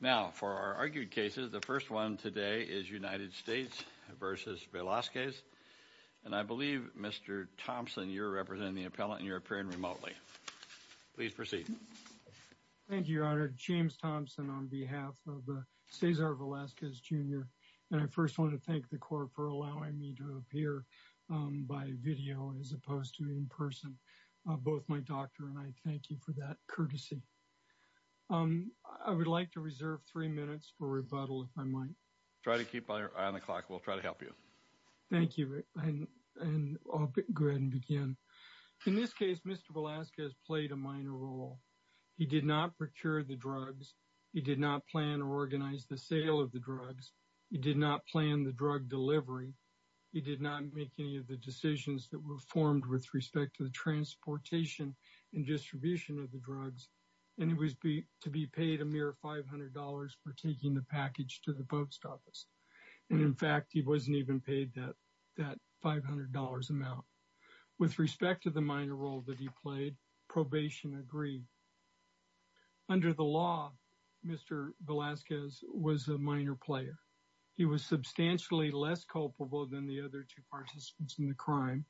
Now for our argued cases, the first one today is United States versus Velazquez, and I believe Mr. Thompson, you're representing the appellant and you're appearing remotely. Please proceed. Thank you, Your Honor. James Thompson on behalf of Cesar Velazquez, Jr., and I first want to thank the court for allowing me to appear by video as opposed to in person. Both my doctor and I thank you for that courtesy. I would like to reserve three minutes for rebuttal if I might. Try to keep on the clock. We'll try to help you. Thank you. And I'll go ahead and begin. In this case, Mr. Velazquez played a minor role. He did not procure the drugs. He did not plan or organize the sale of the drugs. He did not plan the drug delivery. He did not make any of decisions that were formed with respect to the transportation and distribution of the drugs. And it was to be paid a mere $500 for taking the package to the post office. And in fact, he wasn't even paid that $500 amount. With respect to the minor role that he played, probation agreed. Under the law, Mr. Velazquez was a minor player. He was substantially less culpable than the other two participants in the crime.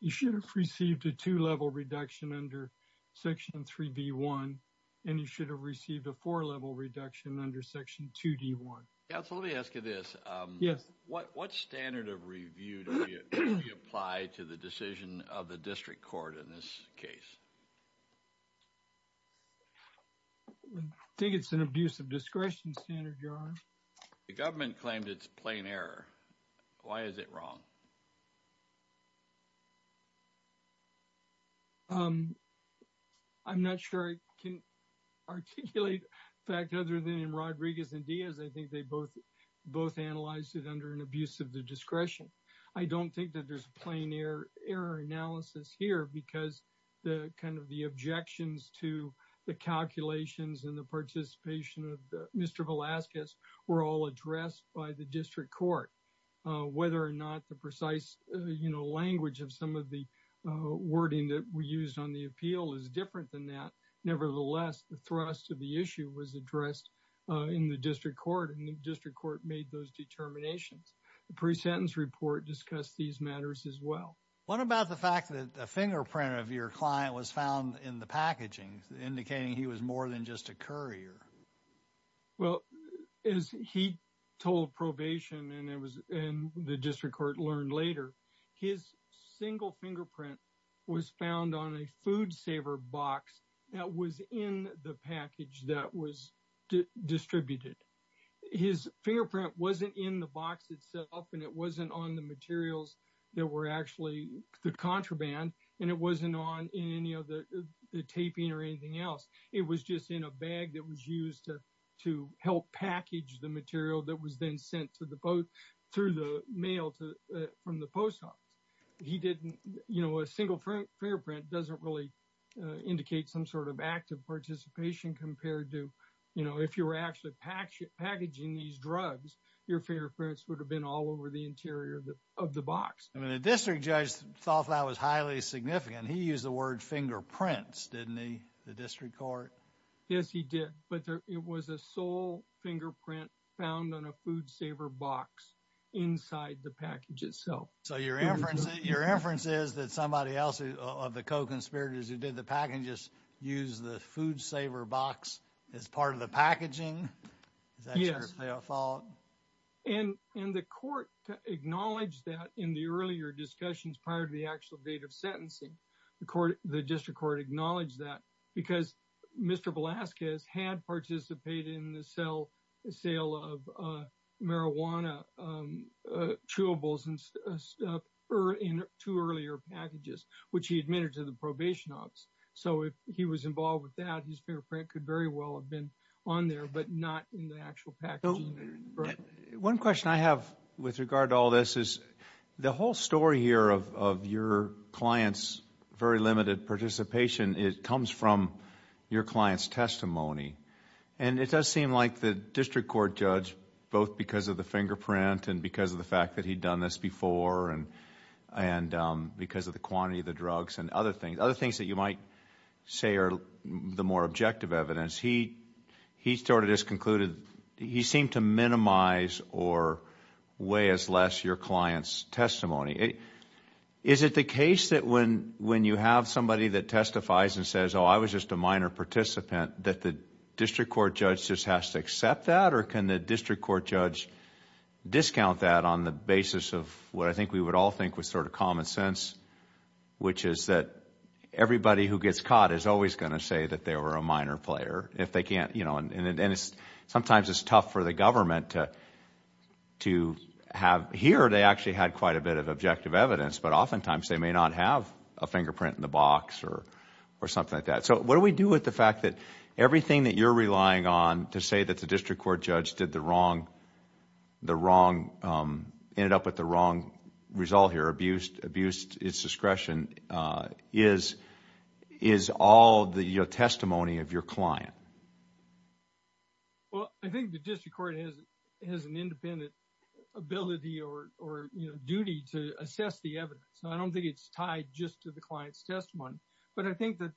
He should have received a two-level reduction under Section 3B1, and he should have received a four-level reduction under Section 2D1. Yeah, so let me ask you this. Yes. What standard of review do you apply to the decision of the district court in this case? I think it's an abuse of discretion standard, Your Honor. The government claimed it's plain error. Why is it wrong? I'm not sure I can articulate the fact other than in Rodriguez and Diaz, I think they both analyzed it under an abuse of the discretion. I don't think that there's a plain error analysis here because the kind of the objections to the calculations and the participation of Mr. Velazquez were all addressed by the district court. Whether or not the precise language of some of the wording that we used on the appeal is different than that. Nevertheless, the thrust of the issue was addressed in the district court, and the district court made those determinations. The pre-sentence report discussed these matters as well. What about the fact that a fingerprint of your client was found in the packaging indicating he was more than just a courier? Well, as he told probation and the district court learned later, his single fingerprint was found on a food saver box that was in the package that was distributed. His fingerprint wasn't in the box itself, and it wasn't on the materials that were actually the contraband, and it wasn't on any of the taping or anything else. It was just in a bag that was used to help package the material that was then sent through the mail from the post office. A single fingerprint doesn't really indicate some sort of active participation compared to if you were actually packaging these drugs, your fingerprints would have been all over the interior of the box. The district judge thought that was highly significant. He used the word fingerprints, didn't he, the district court? Yes, he did, but it was a sole fingerprint found on a food saver box inside the package itself. So your inference is that somebody else of the co-conspirators who did the packages used the food saver box as part of the packaging? Yes, and the court acknowledged that in the earlier discussions prior to the actual date of sentencing. The district court acknowledged that because Mr. Velasquez had participated in the sale of marijuana chewables and stuff in two earlier packages, which he admitted to the probation office. So if he was involved with that, his fingerprint could very well have been on there, but not in the actual packaging. One question I have with regard to all this is the whole story here of your client's very limited participation, it comes from your client's testimony. It does seem like the district court judge, both because of the fingerprint and because of the fact that he'd done this before and because of the quantity of the he sort of just concluded, he seemed to minimize or weigh as less your client's testimony. Is it the case that when you have somebody that testifies and says, oh, I was just a minor participant, that the district court judge just has to accept that? Or can the district court judge discount that on the basis of what I think we would all think was sort of common sense, which is that everybody who gets caught is always going to say that they were a minor player. Sometimes it's tough for the government to have... here they actually had quite a bit of objective evidence, but oftentimes they may not have a fingerprint in the box or something like that. So what do we do with the fact that everything that you're relying on to say that the district court judge did the wrong, ended up with the wrong result here, abused its discretion? Is all the testimony of your client? Well, I think the district court has an independent ability or duty to assess the evidence. I don't think it's tied just to the client's testimony, but I think that...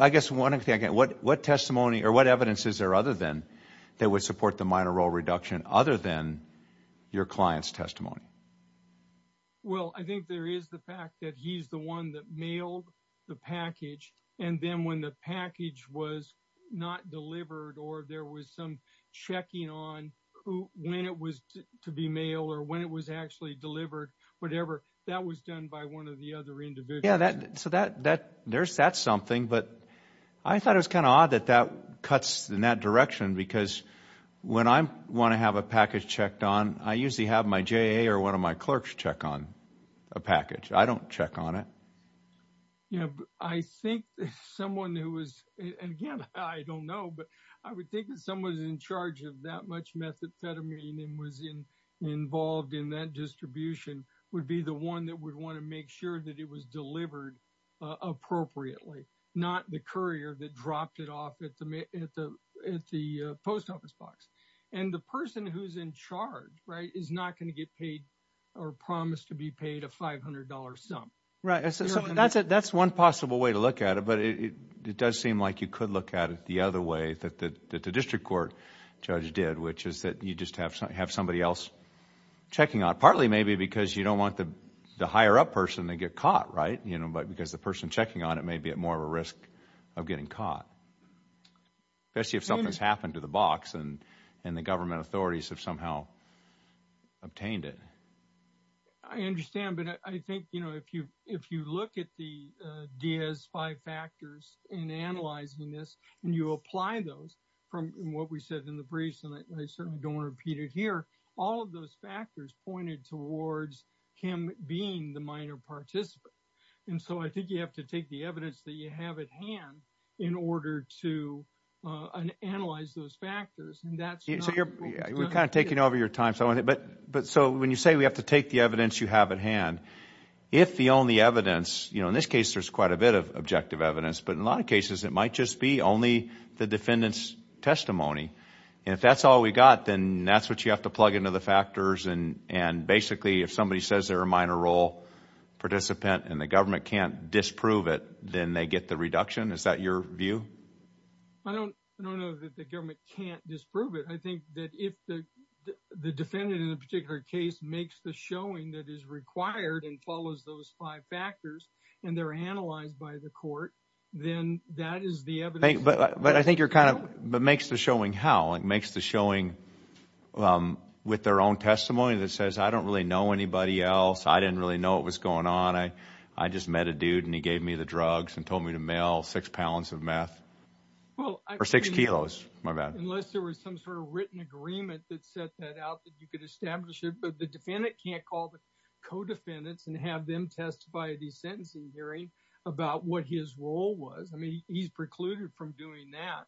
I guess one thing, what testimony or what evidence is there other than that would support the minor role reduction other than your client's testimony? Well, I think there is the fact that he's the one that mailed the package, and then when the package was not delivered or there was some checking on when it was to be mailed or when it was actually delivered, whatever, that was done by one of the other individuals. Yeah, so there's that something, but I thought it was kind of odd that that cuts in that direction because when I want to have a package checked on, I usually have my or one of my clerks check on a package. I don't check on it. Yeah, I think someone who was... and again, I don't know, but I would think that someone who's in charge of that much methamphetamine and was involved in that distribution would be the one that would want to make sure that it was delivered appropriately, not the courier that dropped it off at the post office box. And the person who's in charge, right, is not going to get paid or promise to be paid a $500 sum. Right. That's one possible way to look at it, but it does seem like you could look at it the other way that the district court judge did, which is that you just have somebody else checking on, partly maybe because you don't want the higher up person to get caught, right? But because the person checking on it may be at more of a risk of getting caught, especially if something's happened to the box and the government authorities have somehow obtained it. I understand, but I think, you know, if you look at the Diaz five factors in analyzing this and you apply those from what we said in the briefs, and I certainly don't want to repeat it here, all of those factors pointed towards him being the minor participant. And so I think you have to take the evidence that you have at hand in order to analyze those factors. So you're kind of taking over your time. But so when you say we have to take the evidence you have at hand, if the only evidence, you know, in this case, there's quite a bit of objective evidence, but in a lot of cases, it might just be only the defendant's testimony. And if that's all we got, then that's what you have to plug into the factors. And basically, if somebody says they're a minor role participant and the government can't disprove it, then they get the reduction. Is that your view? I don't know that the government can't disprove it. I think that if the defendant in a particular case makes the showing that is required and follows those five factors and they're analyzed by the court, then that is the evidence. But I think you're kind of, but makes the showing how, like makes the showing with their own testimony that says, I don't really know anybody else. I didn't really know what was going on. I just met a dude and he gave me the drugs and told me to mail six pounds of meth or six kilos. Unless there was some sort of written agreement that set that out that you could establish it, but the defendant can't call the co-defendants and have them testify at the sentencing hearing about what his role was. I mean, he's precluded from doing that.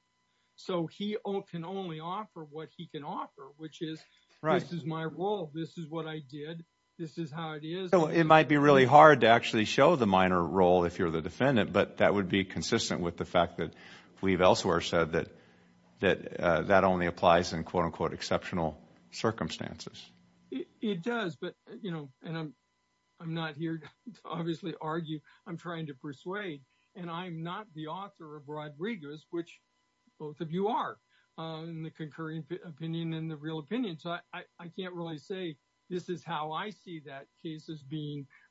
So he can only offer what he can offer, which is, this is my role. This is what I did. This is how it is. It might be really hard to actually show the minor role if you're the defendant, but that would be consistent with the fact that we've elsewhere said that that only applies in quote unquote exceptional circumstances. It does, but you know, and I'm not here to obviously argue. I'm trying to persuade, and I'm not the author of Rodriguez, which both of you are in the concurring opinion and the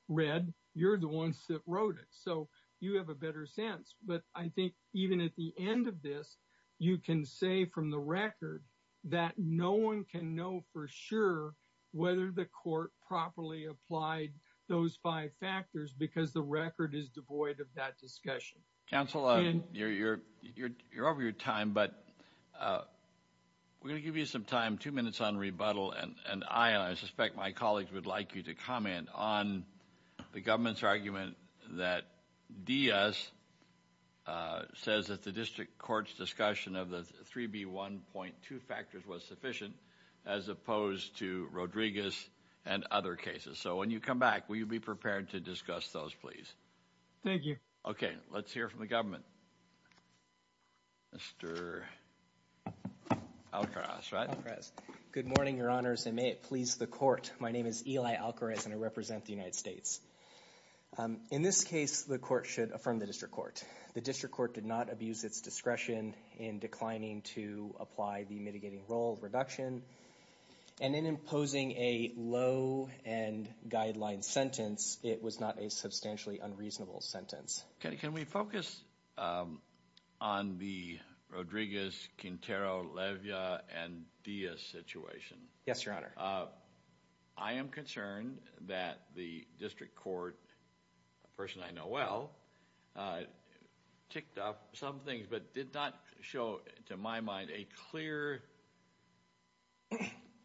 read, you're the ones that wrote it. So you have a better sense, but I think even at the end of this, you can say from the record that no one can know for sure whether the court properly applied those five factors because the record is devoid of that discussion. Counselor, you're over your time, but we're going to give you some time, two minutes on rebuttal, and I and I suspect my colleagues would like you to comment on the government's argument that Diaz says that the district court's discussion of the 3B1.2 factors was sufficient as opposed to Rodriguez and other cases. So when you come back, will you be prepared to discuss those, please? Thank you. Okay, let's hear from the government. Mr. Alcaraz, right? Good morning, your honors, and may it please the court. My name is Eli Alcaraz, and I represent the United States. In this case, the court should affirm the district court. The district court did not abuse its discretion in declining to apply the mitigating role reduction, and in imposing a low-end guideline sentence, it was not a substantially unreasonable sentence. Okay, can we focus on the Rodriguez, Quintero, Levia, and Diaz situation? Yes, your honor. I am concerned that the district court, a person I know well, ticked off some things but did not show, to my mind, a clear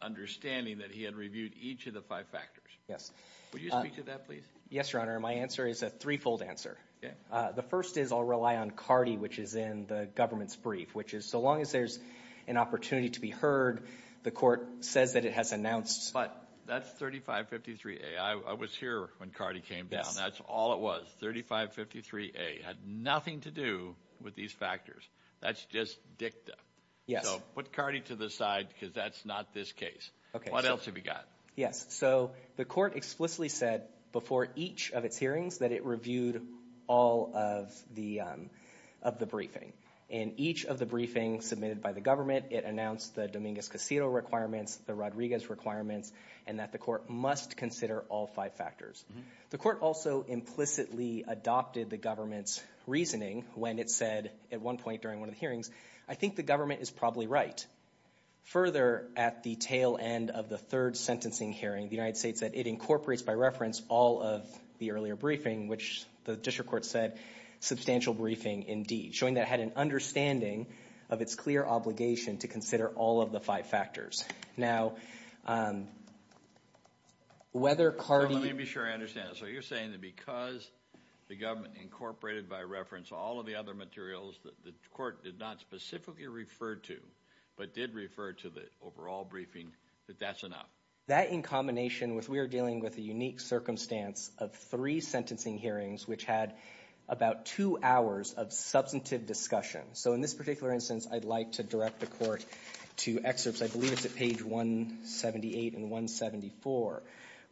understanding that he had reviewed each of the five factors. Yes. Will you speak to that, please? Yes, your honor. My answer is a threefold answer. Yeah. The first is I'll rely on CARDI, which is in the government's brief, which is so long as there's an opportunity to be heard, the court says that it has announced... But that's 3553A. I was here when CARDI came down. That's all it was. 3553A had nothing to do with these factors. That's just dicta. Yes. So put CARDI to the side because that's not this case. Okay. What else have we got? Yes, so the court explicitly said before each of its hearings that it reviewed all of the briefing. In each of the briefings submitted by the government, it announced the Dominguez-Quintero requirements, the Rodriguez requirements, and that the court must consider all five factors. The court also implicitly adopted the government's reasoning when it said at one point during one of the hearings, I think the government is probably right. Further, at the tail end of the third sentencing hearing, the United States said it incorporates by reference all of the earlier briefing, which the district court said substantial briefing indeed, showing that it had an understanding of its clear obligation to consider all of the five factors. Now, whether CARDI... Let me be sure I understand. So you're saying that because the government incorporated by reference all of the other materials that the court did not specifically refer to, but did refer to the overall briefing, that that's enough? That in combination with we are dealing with a unique circumstance of three sentencing hearings, which had about two hours of substantive discussion. So in this particular instance, I'd like to direct the court to excerpts, I believe it's at page 178 and 174,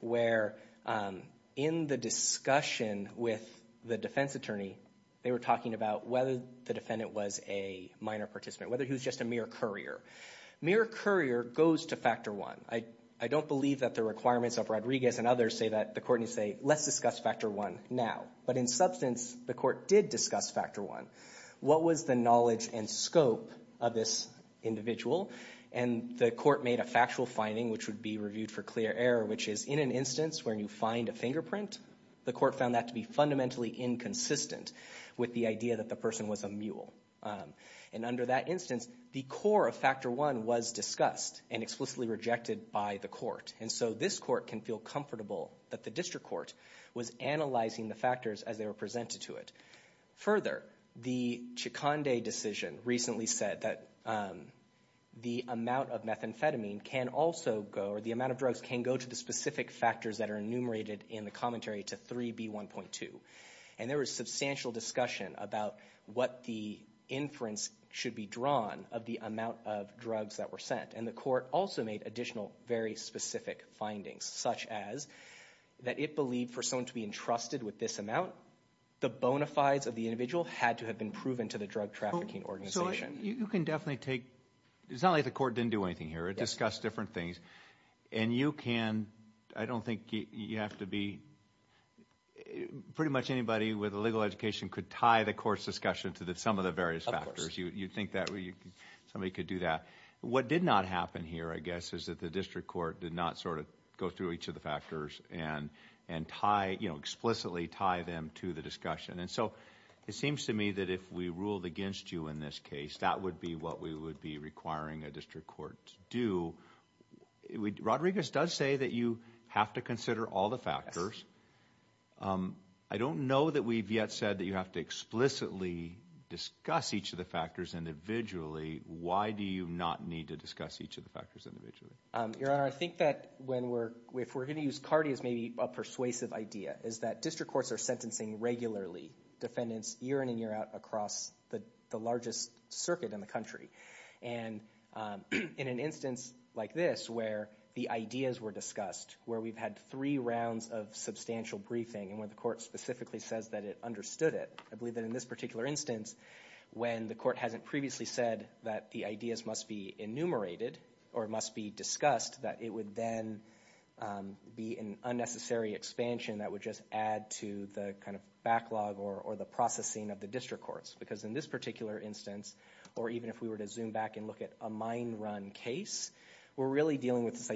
where in the discussion with the defense attorney, they were talking about whether the defendant was a minor participant, whether he was just a mere courier. Mere courier goes to factor one. I don't believe that the requirements of Rodriguez and others say that the court needs to say, let's discuss factor one now. But in substance, the court did discuss factor one. What was the knowledge and scope of this individual? And the court made a factual finding, which would be reviewed for clear error, which is in an instance where you find a fingerprint, the court found that to be fundamentally inconsistent with the idea that the person was a mule. And under that instance, the core of factor one was discussed and explicitly rejected by the court. And so this court can feel comfortable that the district court was analyzing the factors as they were presented to it. Further, the Chiconde decision recently said that the amount of methamphetamine can also go, or the And there was substantial discussion about what the inference should be drawn of the amount of drugs that were sent. And the court also made additional, very specific findings, such as that it believed for someone to be entrusted with this amount, the bona fides of the individual had to have been proven to the drug trafficking organization. So you can definitely take, it's not like the court didn't do anything here. It discussed different things. And you can, I don't think you have to be pretty much anybody with a legal education could tie the court's discussion to some of the various factors. You'd think that somebody could do that. What did not happen here, I guess, is that the district court did not sort of go through each of the factors and tie, you know, explicitly tie them to the discussion. And so it seems to me that if we ruled against you in this case, that would be what we would be requiring a district court to do. Rodriguez does say that you have to consider all the factors. I don't know that we've yet said that you have to explicitly discuss each of the factors individually. Why do you not need to discuss each of the factors individually? Your Honor, I think that when we're, if we're going to use CARDI as maybe a persuasive idea, is that district courts are sentencing regularly defendants year in and year out across the largest circuit in the country. And in an instance like this, where the ideas were discussed, where we've had three rounds of substantial briefing, and where the court specifically says that it understood it, I believe that in this particular instance, when the court hasn't previously said that the ideas must be enumerated or must be discussed, that it would then be an unnecessary expansion that would just add to the kind of backlog or the processing of the district courts. Because in this particular instance, or even if we were to zoom back and look at a mine run case, we're really dealing with this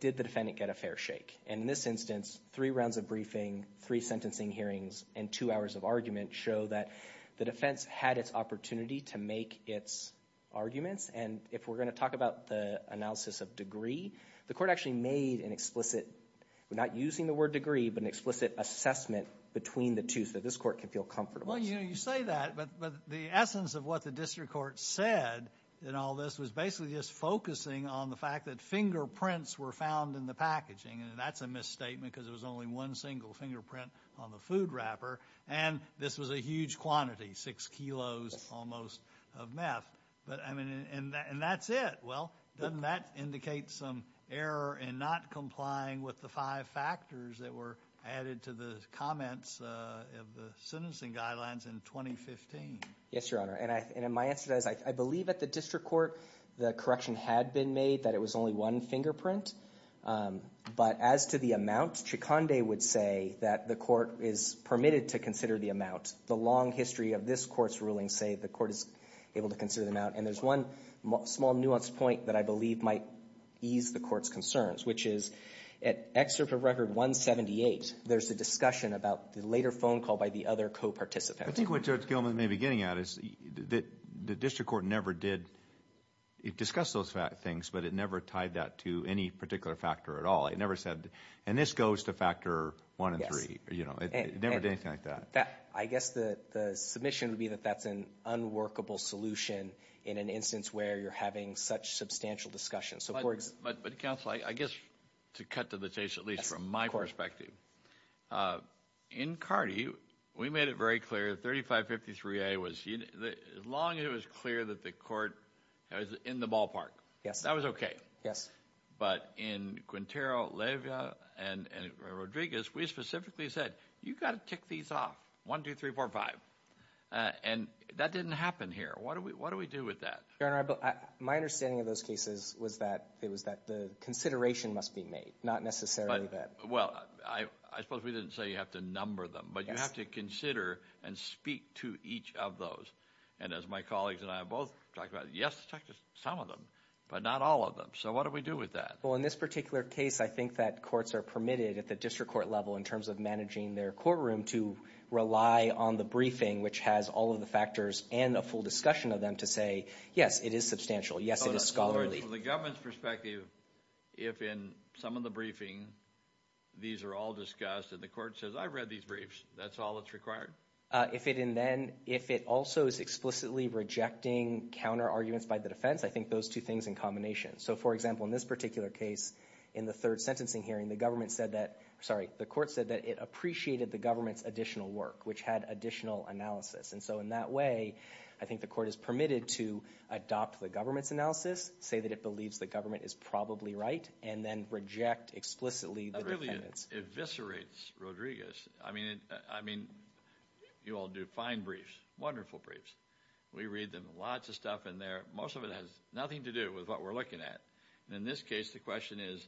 did the defendant get a fair shake? And in this instance, three rounds of briefing, three sentencing hearings, and two hours of argument show that the defense had its opportunity to make its arguments. And if we're going to talk about the analysis of degree, the court actually made an explicit, we're not using the word degree, but an explicit assessment between the two so this court can feel comfortable. Well, you know, you say that, but the essence of what the district said in all this was basically just focusing on the fact that fingerprints were found in the packaging, and that's a misstatement because there was only one single fingerprint on the food wrapper, and this was a huge quantity, six kilos almost of meth. But I mean, and that's it. Well, doesn't that indicate some error in not complying with the five factors that were added to the comments of the sentencing guidelines in 2015? Yes, Your Honor, and my answer to that is I believe at the district court the correction had been made that it was only one fingerprint, but as to the amount, Chiconde would say that the court is permitted to consider the amount. The long history of this court's rulings say the court is able to consider the amount, and there's one small nuanced point that I believe might ease the court's concerns, which is at Excerpt of Record 178, there's a discussion about the later phone call by the other co-participant. I think what Judge Gilman may be getting at is that the district court never did, it discussed those things, but it never tied that to any particular factor at all. It never said, and this goes to factor one and three, you know, it never did anything like that. I guess the submission would be that that's an unworkable solution in an instance where you're having such substantial discussion. But counsel, I guess to cut to the chase, at least from my perspective, in Cardi, we made it very clear 3553A, as long as it was clear that the court was in the ballpark, that was okay, but in Quintero, Levia, and Rodriguez, we specifically said you've got to tick these off, one, two, three, four, five, and that didn't happen here. What do we do with that? Your Honor, my understanding of those cases was that it was that the consideration must be made, not necessarily that... Well, I suppose we didn't say you have to number them, but you have to consider and speak to each of those, and as my colleagues and I both talked about, yes, talk to some of them, but not all of them. So what do we do with that? Well, in this particular case, I think that courts are permitted at the district court level, in terms of managing their courtroom, to rely on the briefing, which has all of the discretion of them to say, yes, it is substantial, yes, it is scholarly. So from the government's perspective, if in some of the briefing, these are all discussed, and the court says, I read these briefs, that's all that's required? If it also is explicitly rejecting counter-arguments by the defense, I think those two things in combination. So for example, in this particular case, in the third sentencing hearing, the government said that, sorry, the court said that it appreciated the government's additional work, which had additional analysis. And so in that way, I think the court is permitted to adopt the government's analysis, say that it believes the government is probably right, and then reject explicitly the defendants. That really eviscerates Rodriguez. I mean, you all do fine briefs, wonderful briefs. We read them, lots of stuff in there. Most of it has nothing to do with what we're looking at. In this case, the question is,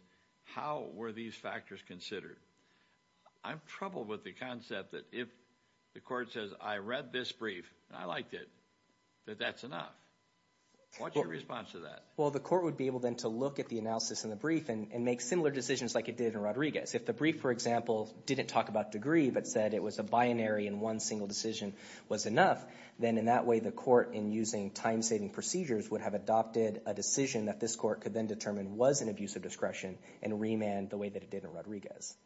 how were these factors considered? I'm troubled with the concept that if the court says, I read this brief, and I liked it, that that's enough. What's your response to that? Well, the court would be able then to look at the analysis in the brief and make similar decisions like it did in Rodriguez. If the brief, for example, didn't talk about degree, but said it was a binary and one single decision was enough, then in that way, the court, in using time-saving procedures, would have adopted a decision that this court could then determine was an abuse of discretion and remand the way that it did in Rodriguez.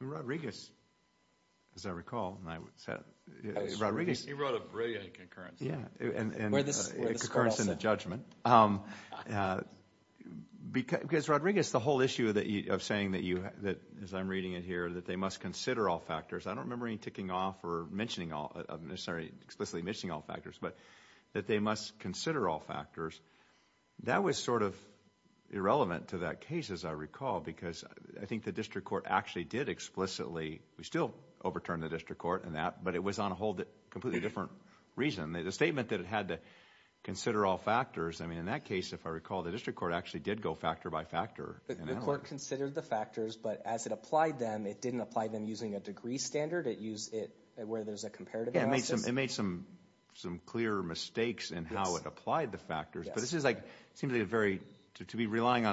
Rodriguez, as I recall, and I said, he wrote a brilliant concurrence. Yeah, and concurrence in the judgment. Because Rodriguez, the whole issue of saying that you, that as I'm reading it here, that they must consider all factors. I don't remember any ticking off or mentioning all, sorry, explicitly mentioning all factors, but that they must consider all factors. That was sort of irrelevant to that case, as I recall, because I think the district court actually did explicitly, we still overturned the district court in that, but it was on a whole completely different reason. The statement that it had to consider all factors, I mean, in that case, if I recall, the district court actually did go factor by factor. The court considered the factors, but as it applied them, it didn't apply them using a degree standard. It used it where there's a comparative analysis. Yeah, it made some clear mistakes in how it applied the factors, but this is like, it seems like a very, to be relying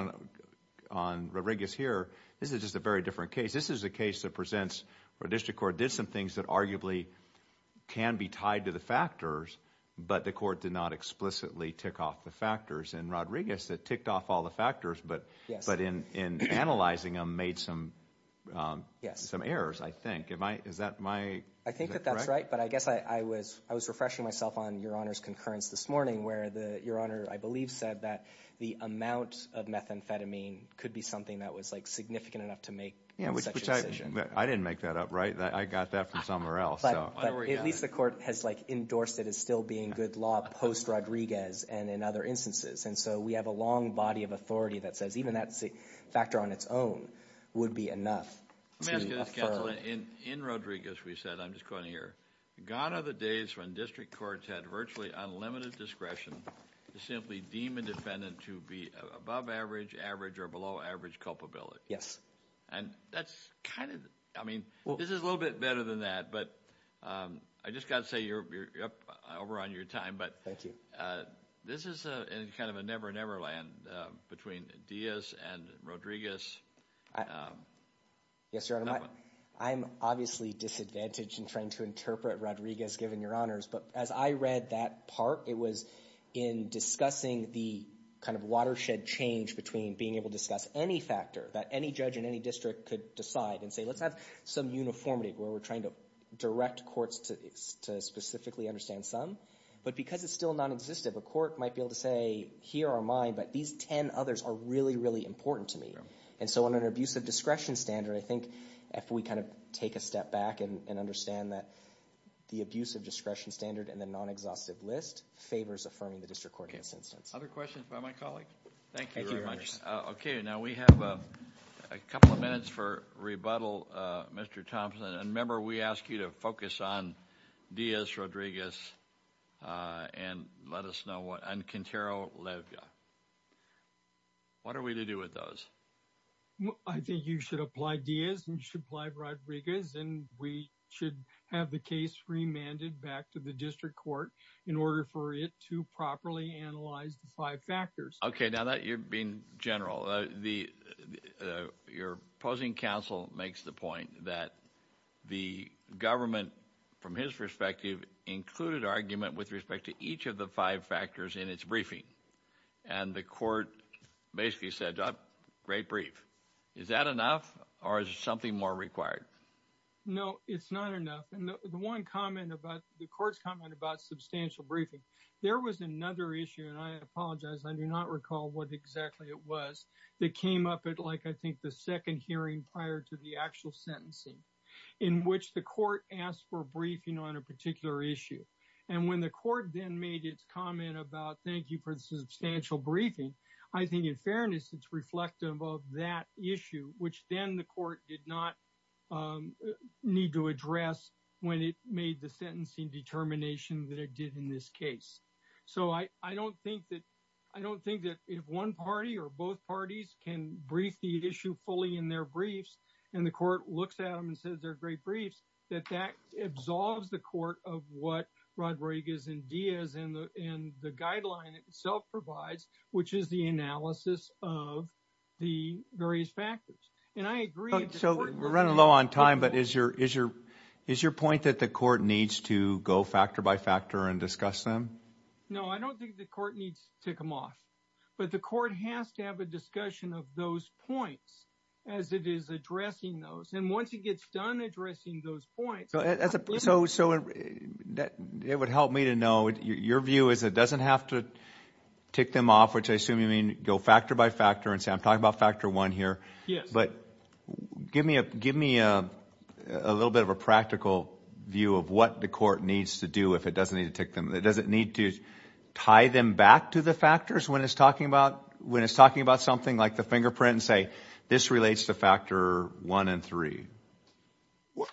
on Rodriguez here, this is just a very different case. This is a case that presents where district court did some things that arguably can be tied to the factors, but the court did not explicitly tick off the factors. In Rodriguez, it ticked off all the factors, but in analyzing them, made some errors, I think. Is that correct? I think that that's right, but I guess I was refreshing myself on your Honor's concurrence this morning, where your Honor, I believe, said that the amount of methamphetamine could be something that was significant enough to make such a decision. I didn't make that up, right? I got that from somewhere else. At least the court has endorsed it as still being good law post-Rodriguez and in other instances, and so we have a long body of authority that says even that factor on its own would be enough. In Rodriguez, we said, I'm just quoting here, gone are the days when district courts had virtually unlimited discretion to simply deem a defendant to be above average, average, or below average culpability. Yes. And that's kind of, I mean, this is a little bit better than that, but I just got to say, you're up over on your time, but this is a kind of a never-never land between Diaz and Rodriguez. Yes, Your Honor, I'm obviously disadvantaged in trying to interpret Rodriguez, given your Honors, but as I read that part, it was in discussing the kind of watershed change between being able to discuss any factor that any judge in any district could decide and say, let's have some uniformity where we're trying to direct courts to specifically understand some, but because it's still non-existent, the court might be able to say, here are mine, but these 10 others are really, really important to me. And so on an abusive discretion standard, I think if we kind of take a step back and understand that the abusive discretion standard and the non-exhaustive list favors affirming the district court in this instance. Other questions by my Thank you very much. Okay, now we have a couple of minutes for rebuttal, Mr. Thompson. And remember, we asked you to focus on Diaz, Rodriguez, and let us know what, and Quintero, Levya. What are we to do with those? I think you should apply Diaz and you should apply Rodriguez, and we should have the case remanded back to the district court in order for it to properly analyze the five factors. Okay, now that you're being general, your opposing counsel makes the point that the government, from his perspective, included argument with respect to each of the five factors in its briefing. And the court basically said, great brief. Is that enough, or is something more required? No, it's not enough. And the one comment about, the court's comment about substantial briefing, there was another issue, and I apologize, I do not recall what exactly it was, that came up at like, I think, the second hearing prior to the actual sentencing, in which the court asked for a briefing on a particular issue. And when the court then made its comment about, thank you for the substantial briefing, I think in fairness, it's reflective of that issue, which then the court did not need to address when it made the sentencing determination that it did in this case. So I don't think that, I don't think that if one party or both parties can brief the issue fully in their briefs, and the court looks at them and says they're great briefs, that that absolves the court of what Rodriguez and Diaz and the guideline itself provides, which is the analysis of the various factors. And I agree. So we're running low on time, but is your point that the court needs to go factor by factor and discuss them? No, I don't think the court needs to tick them off. But the court has to have a discussion of those points as it is addressing those. And once it gets done addressing those points. So it would help me to know, your view is it doesn't have to tick them off, which I assume you mean go factor by factor and say, I'm talking about factor one here. But give me a little bit of a practical view of what the court needs to do if it doesn't need to tick them. It doesn't need to tie them back to the factors when it's talking about something like the fingerprint and say, this relates to factor one and three.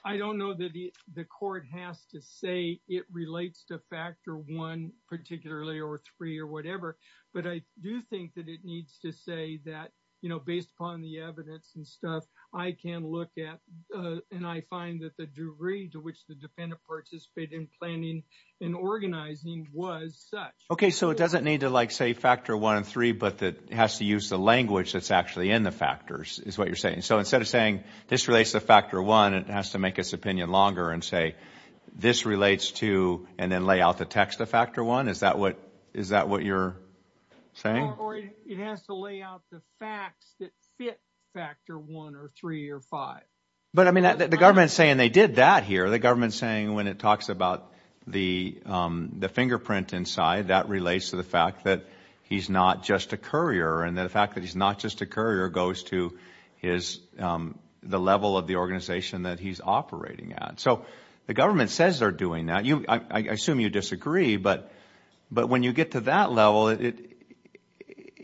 I don't know that the court has to say it relates to factor one, particularly or three or whatever. But I do think that it needs to say that, you know, based upon the evidence and stuff, I can look at and I find that the degree to which the defendant participated in planning and organizing was such. Okay, so it doesn't need to like say factor one and three, but that has to use the language that's actually in the factors is what you're saying. So instead of saying this relates to factor one, it has to make its opinion longer and say this relates to and then lay out the text of factor one. Is that what you're saying? Or it has to lay out the facts that fit factor one or three or five. But I mean, the government's saying they did that here. The government's saying when it talks about the fingerprint inside, that relates to the fact that he's not just a courier and the fact that he's not just a courier goes to the level of the organization that he's operating at. So the government says they're doing that. I assume you disagree, but when you get to that level,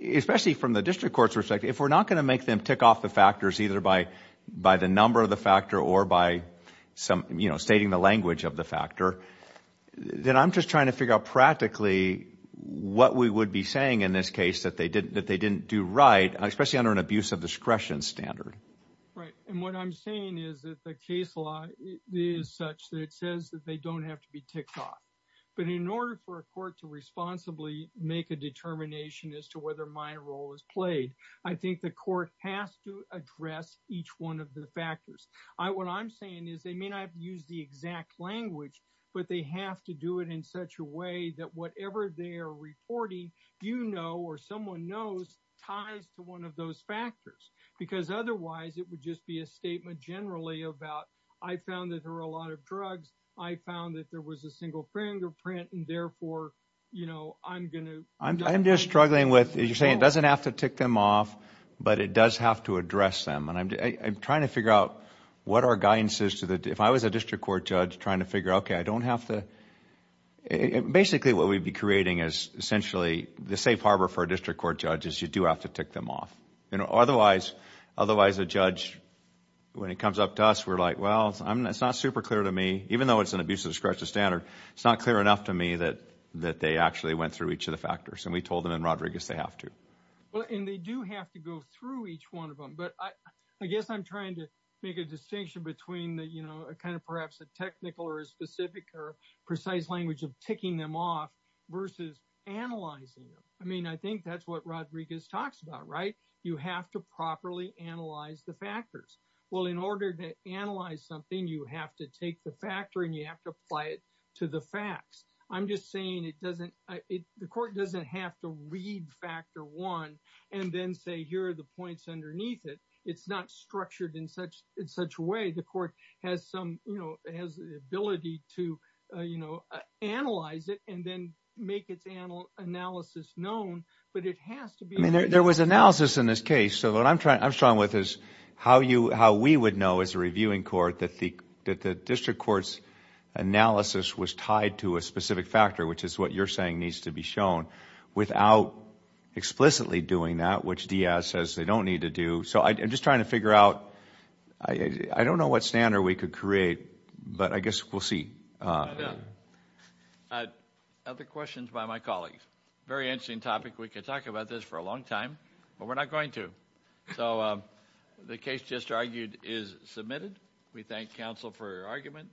especially from the district court's perspective, if we're not going to make them tick off the either by the number of the factor or by stating the language of the factor, then I'm just trying to figure out practically what we would be saying in this case that they didn't do right, especially under an abuse of discretion standard. Right. And what I'm saying is that the case law is such that it says that they don't have to be ticked off. But in order for a court to responsibly make a determination as to whether my role is I think the court has to address each one of the factors. I what I'm saying is they may not have used the exact language, but they have to do it in such a way that whatever they are reporting, you know, or someone knows ties to one of those factors, because otherwise, it would just be a statement generally about, I found that there are a lot of drugs. I found that there was a single fingerprint and therefore, you know, I'm going to I'm just struggling with, as you're saying, it doesn't have to tick them off, but it does have to address them. And I'm trying to figure out what our guidance is to the, if I was a district court judge trying to figure, okay, I don't have to, basically, what we'd be creating is essentially the safe harbor for a district court judge is you do have to tick them off. You know, otherwise, otherwise, a judge, when it comes up to us, we're like, well, it's not super clear to me, even though it's an abuse of discretion standard, it's not clear enough to me that they actually went through each of the factors, and we told them in Rodriguez, they have to. Well, and they do have to go through each one of them. But I guess I'm trying to make a distinction between the, you know, kind of perhaps a technical or a specific or precise language of ticking them off versus analyzing them. I mean, I think that's what Rodriguez talks about, right? You have to properly analyze the factors. Well, in order to analyze something, you have to take the factor and you have to apply it to the facts. I'm just saying it doesn't, the court doesn't have to read factor one, and then say, here are the points underneath it. It's not structured in such a way, the court has some, you know, has the ability to, you know, analyze it and then make its analysis known. But it has to be... I mean, there was analysis in this case. So what I'm trying, how we would know as a reviewing court that the district court's analysis was tied to a specific factor, which is what you're saying needs to be shown, without explicitly doing that, which DS says they don't need to do. So I'm just trying to figure out, I don't know what standard we could create, but I guess we'll see. Other questions by my colleagues? Very interesting topic. We could talk about this for a long time, but we're not going to. So the case just argued is submitted. We thank counsel for her argument.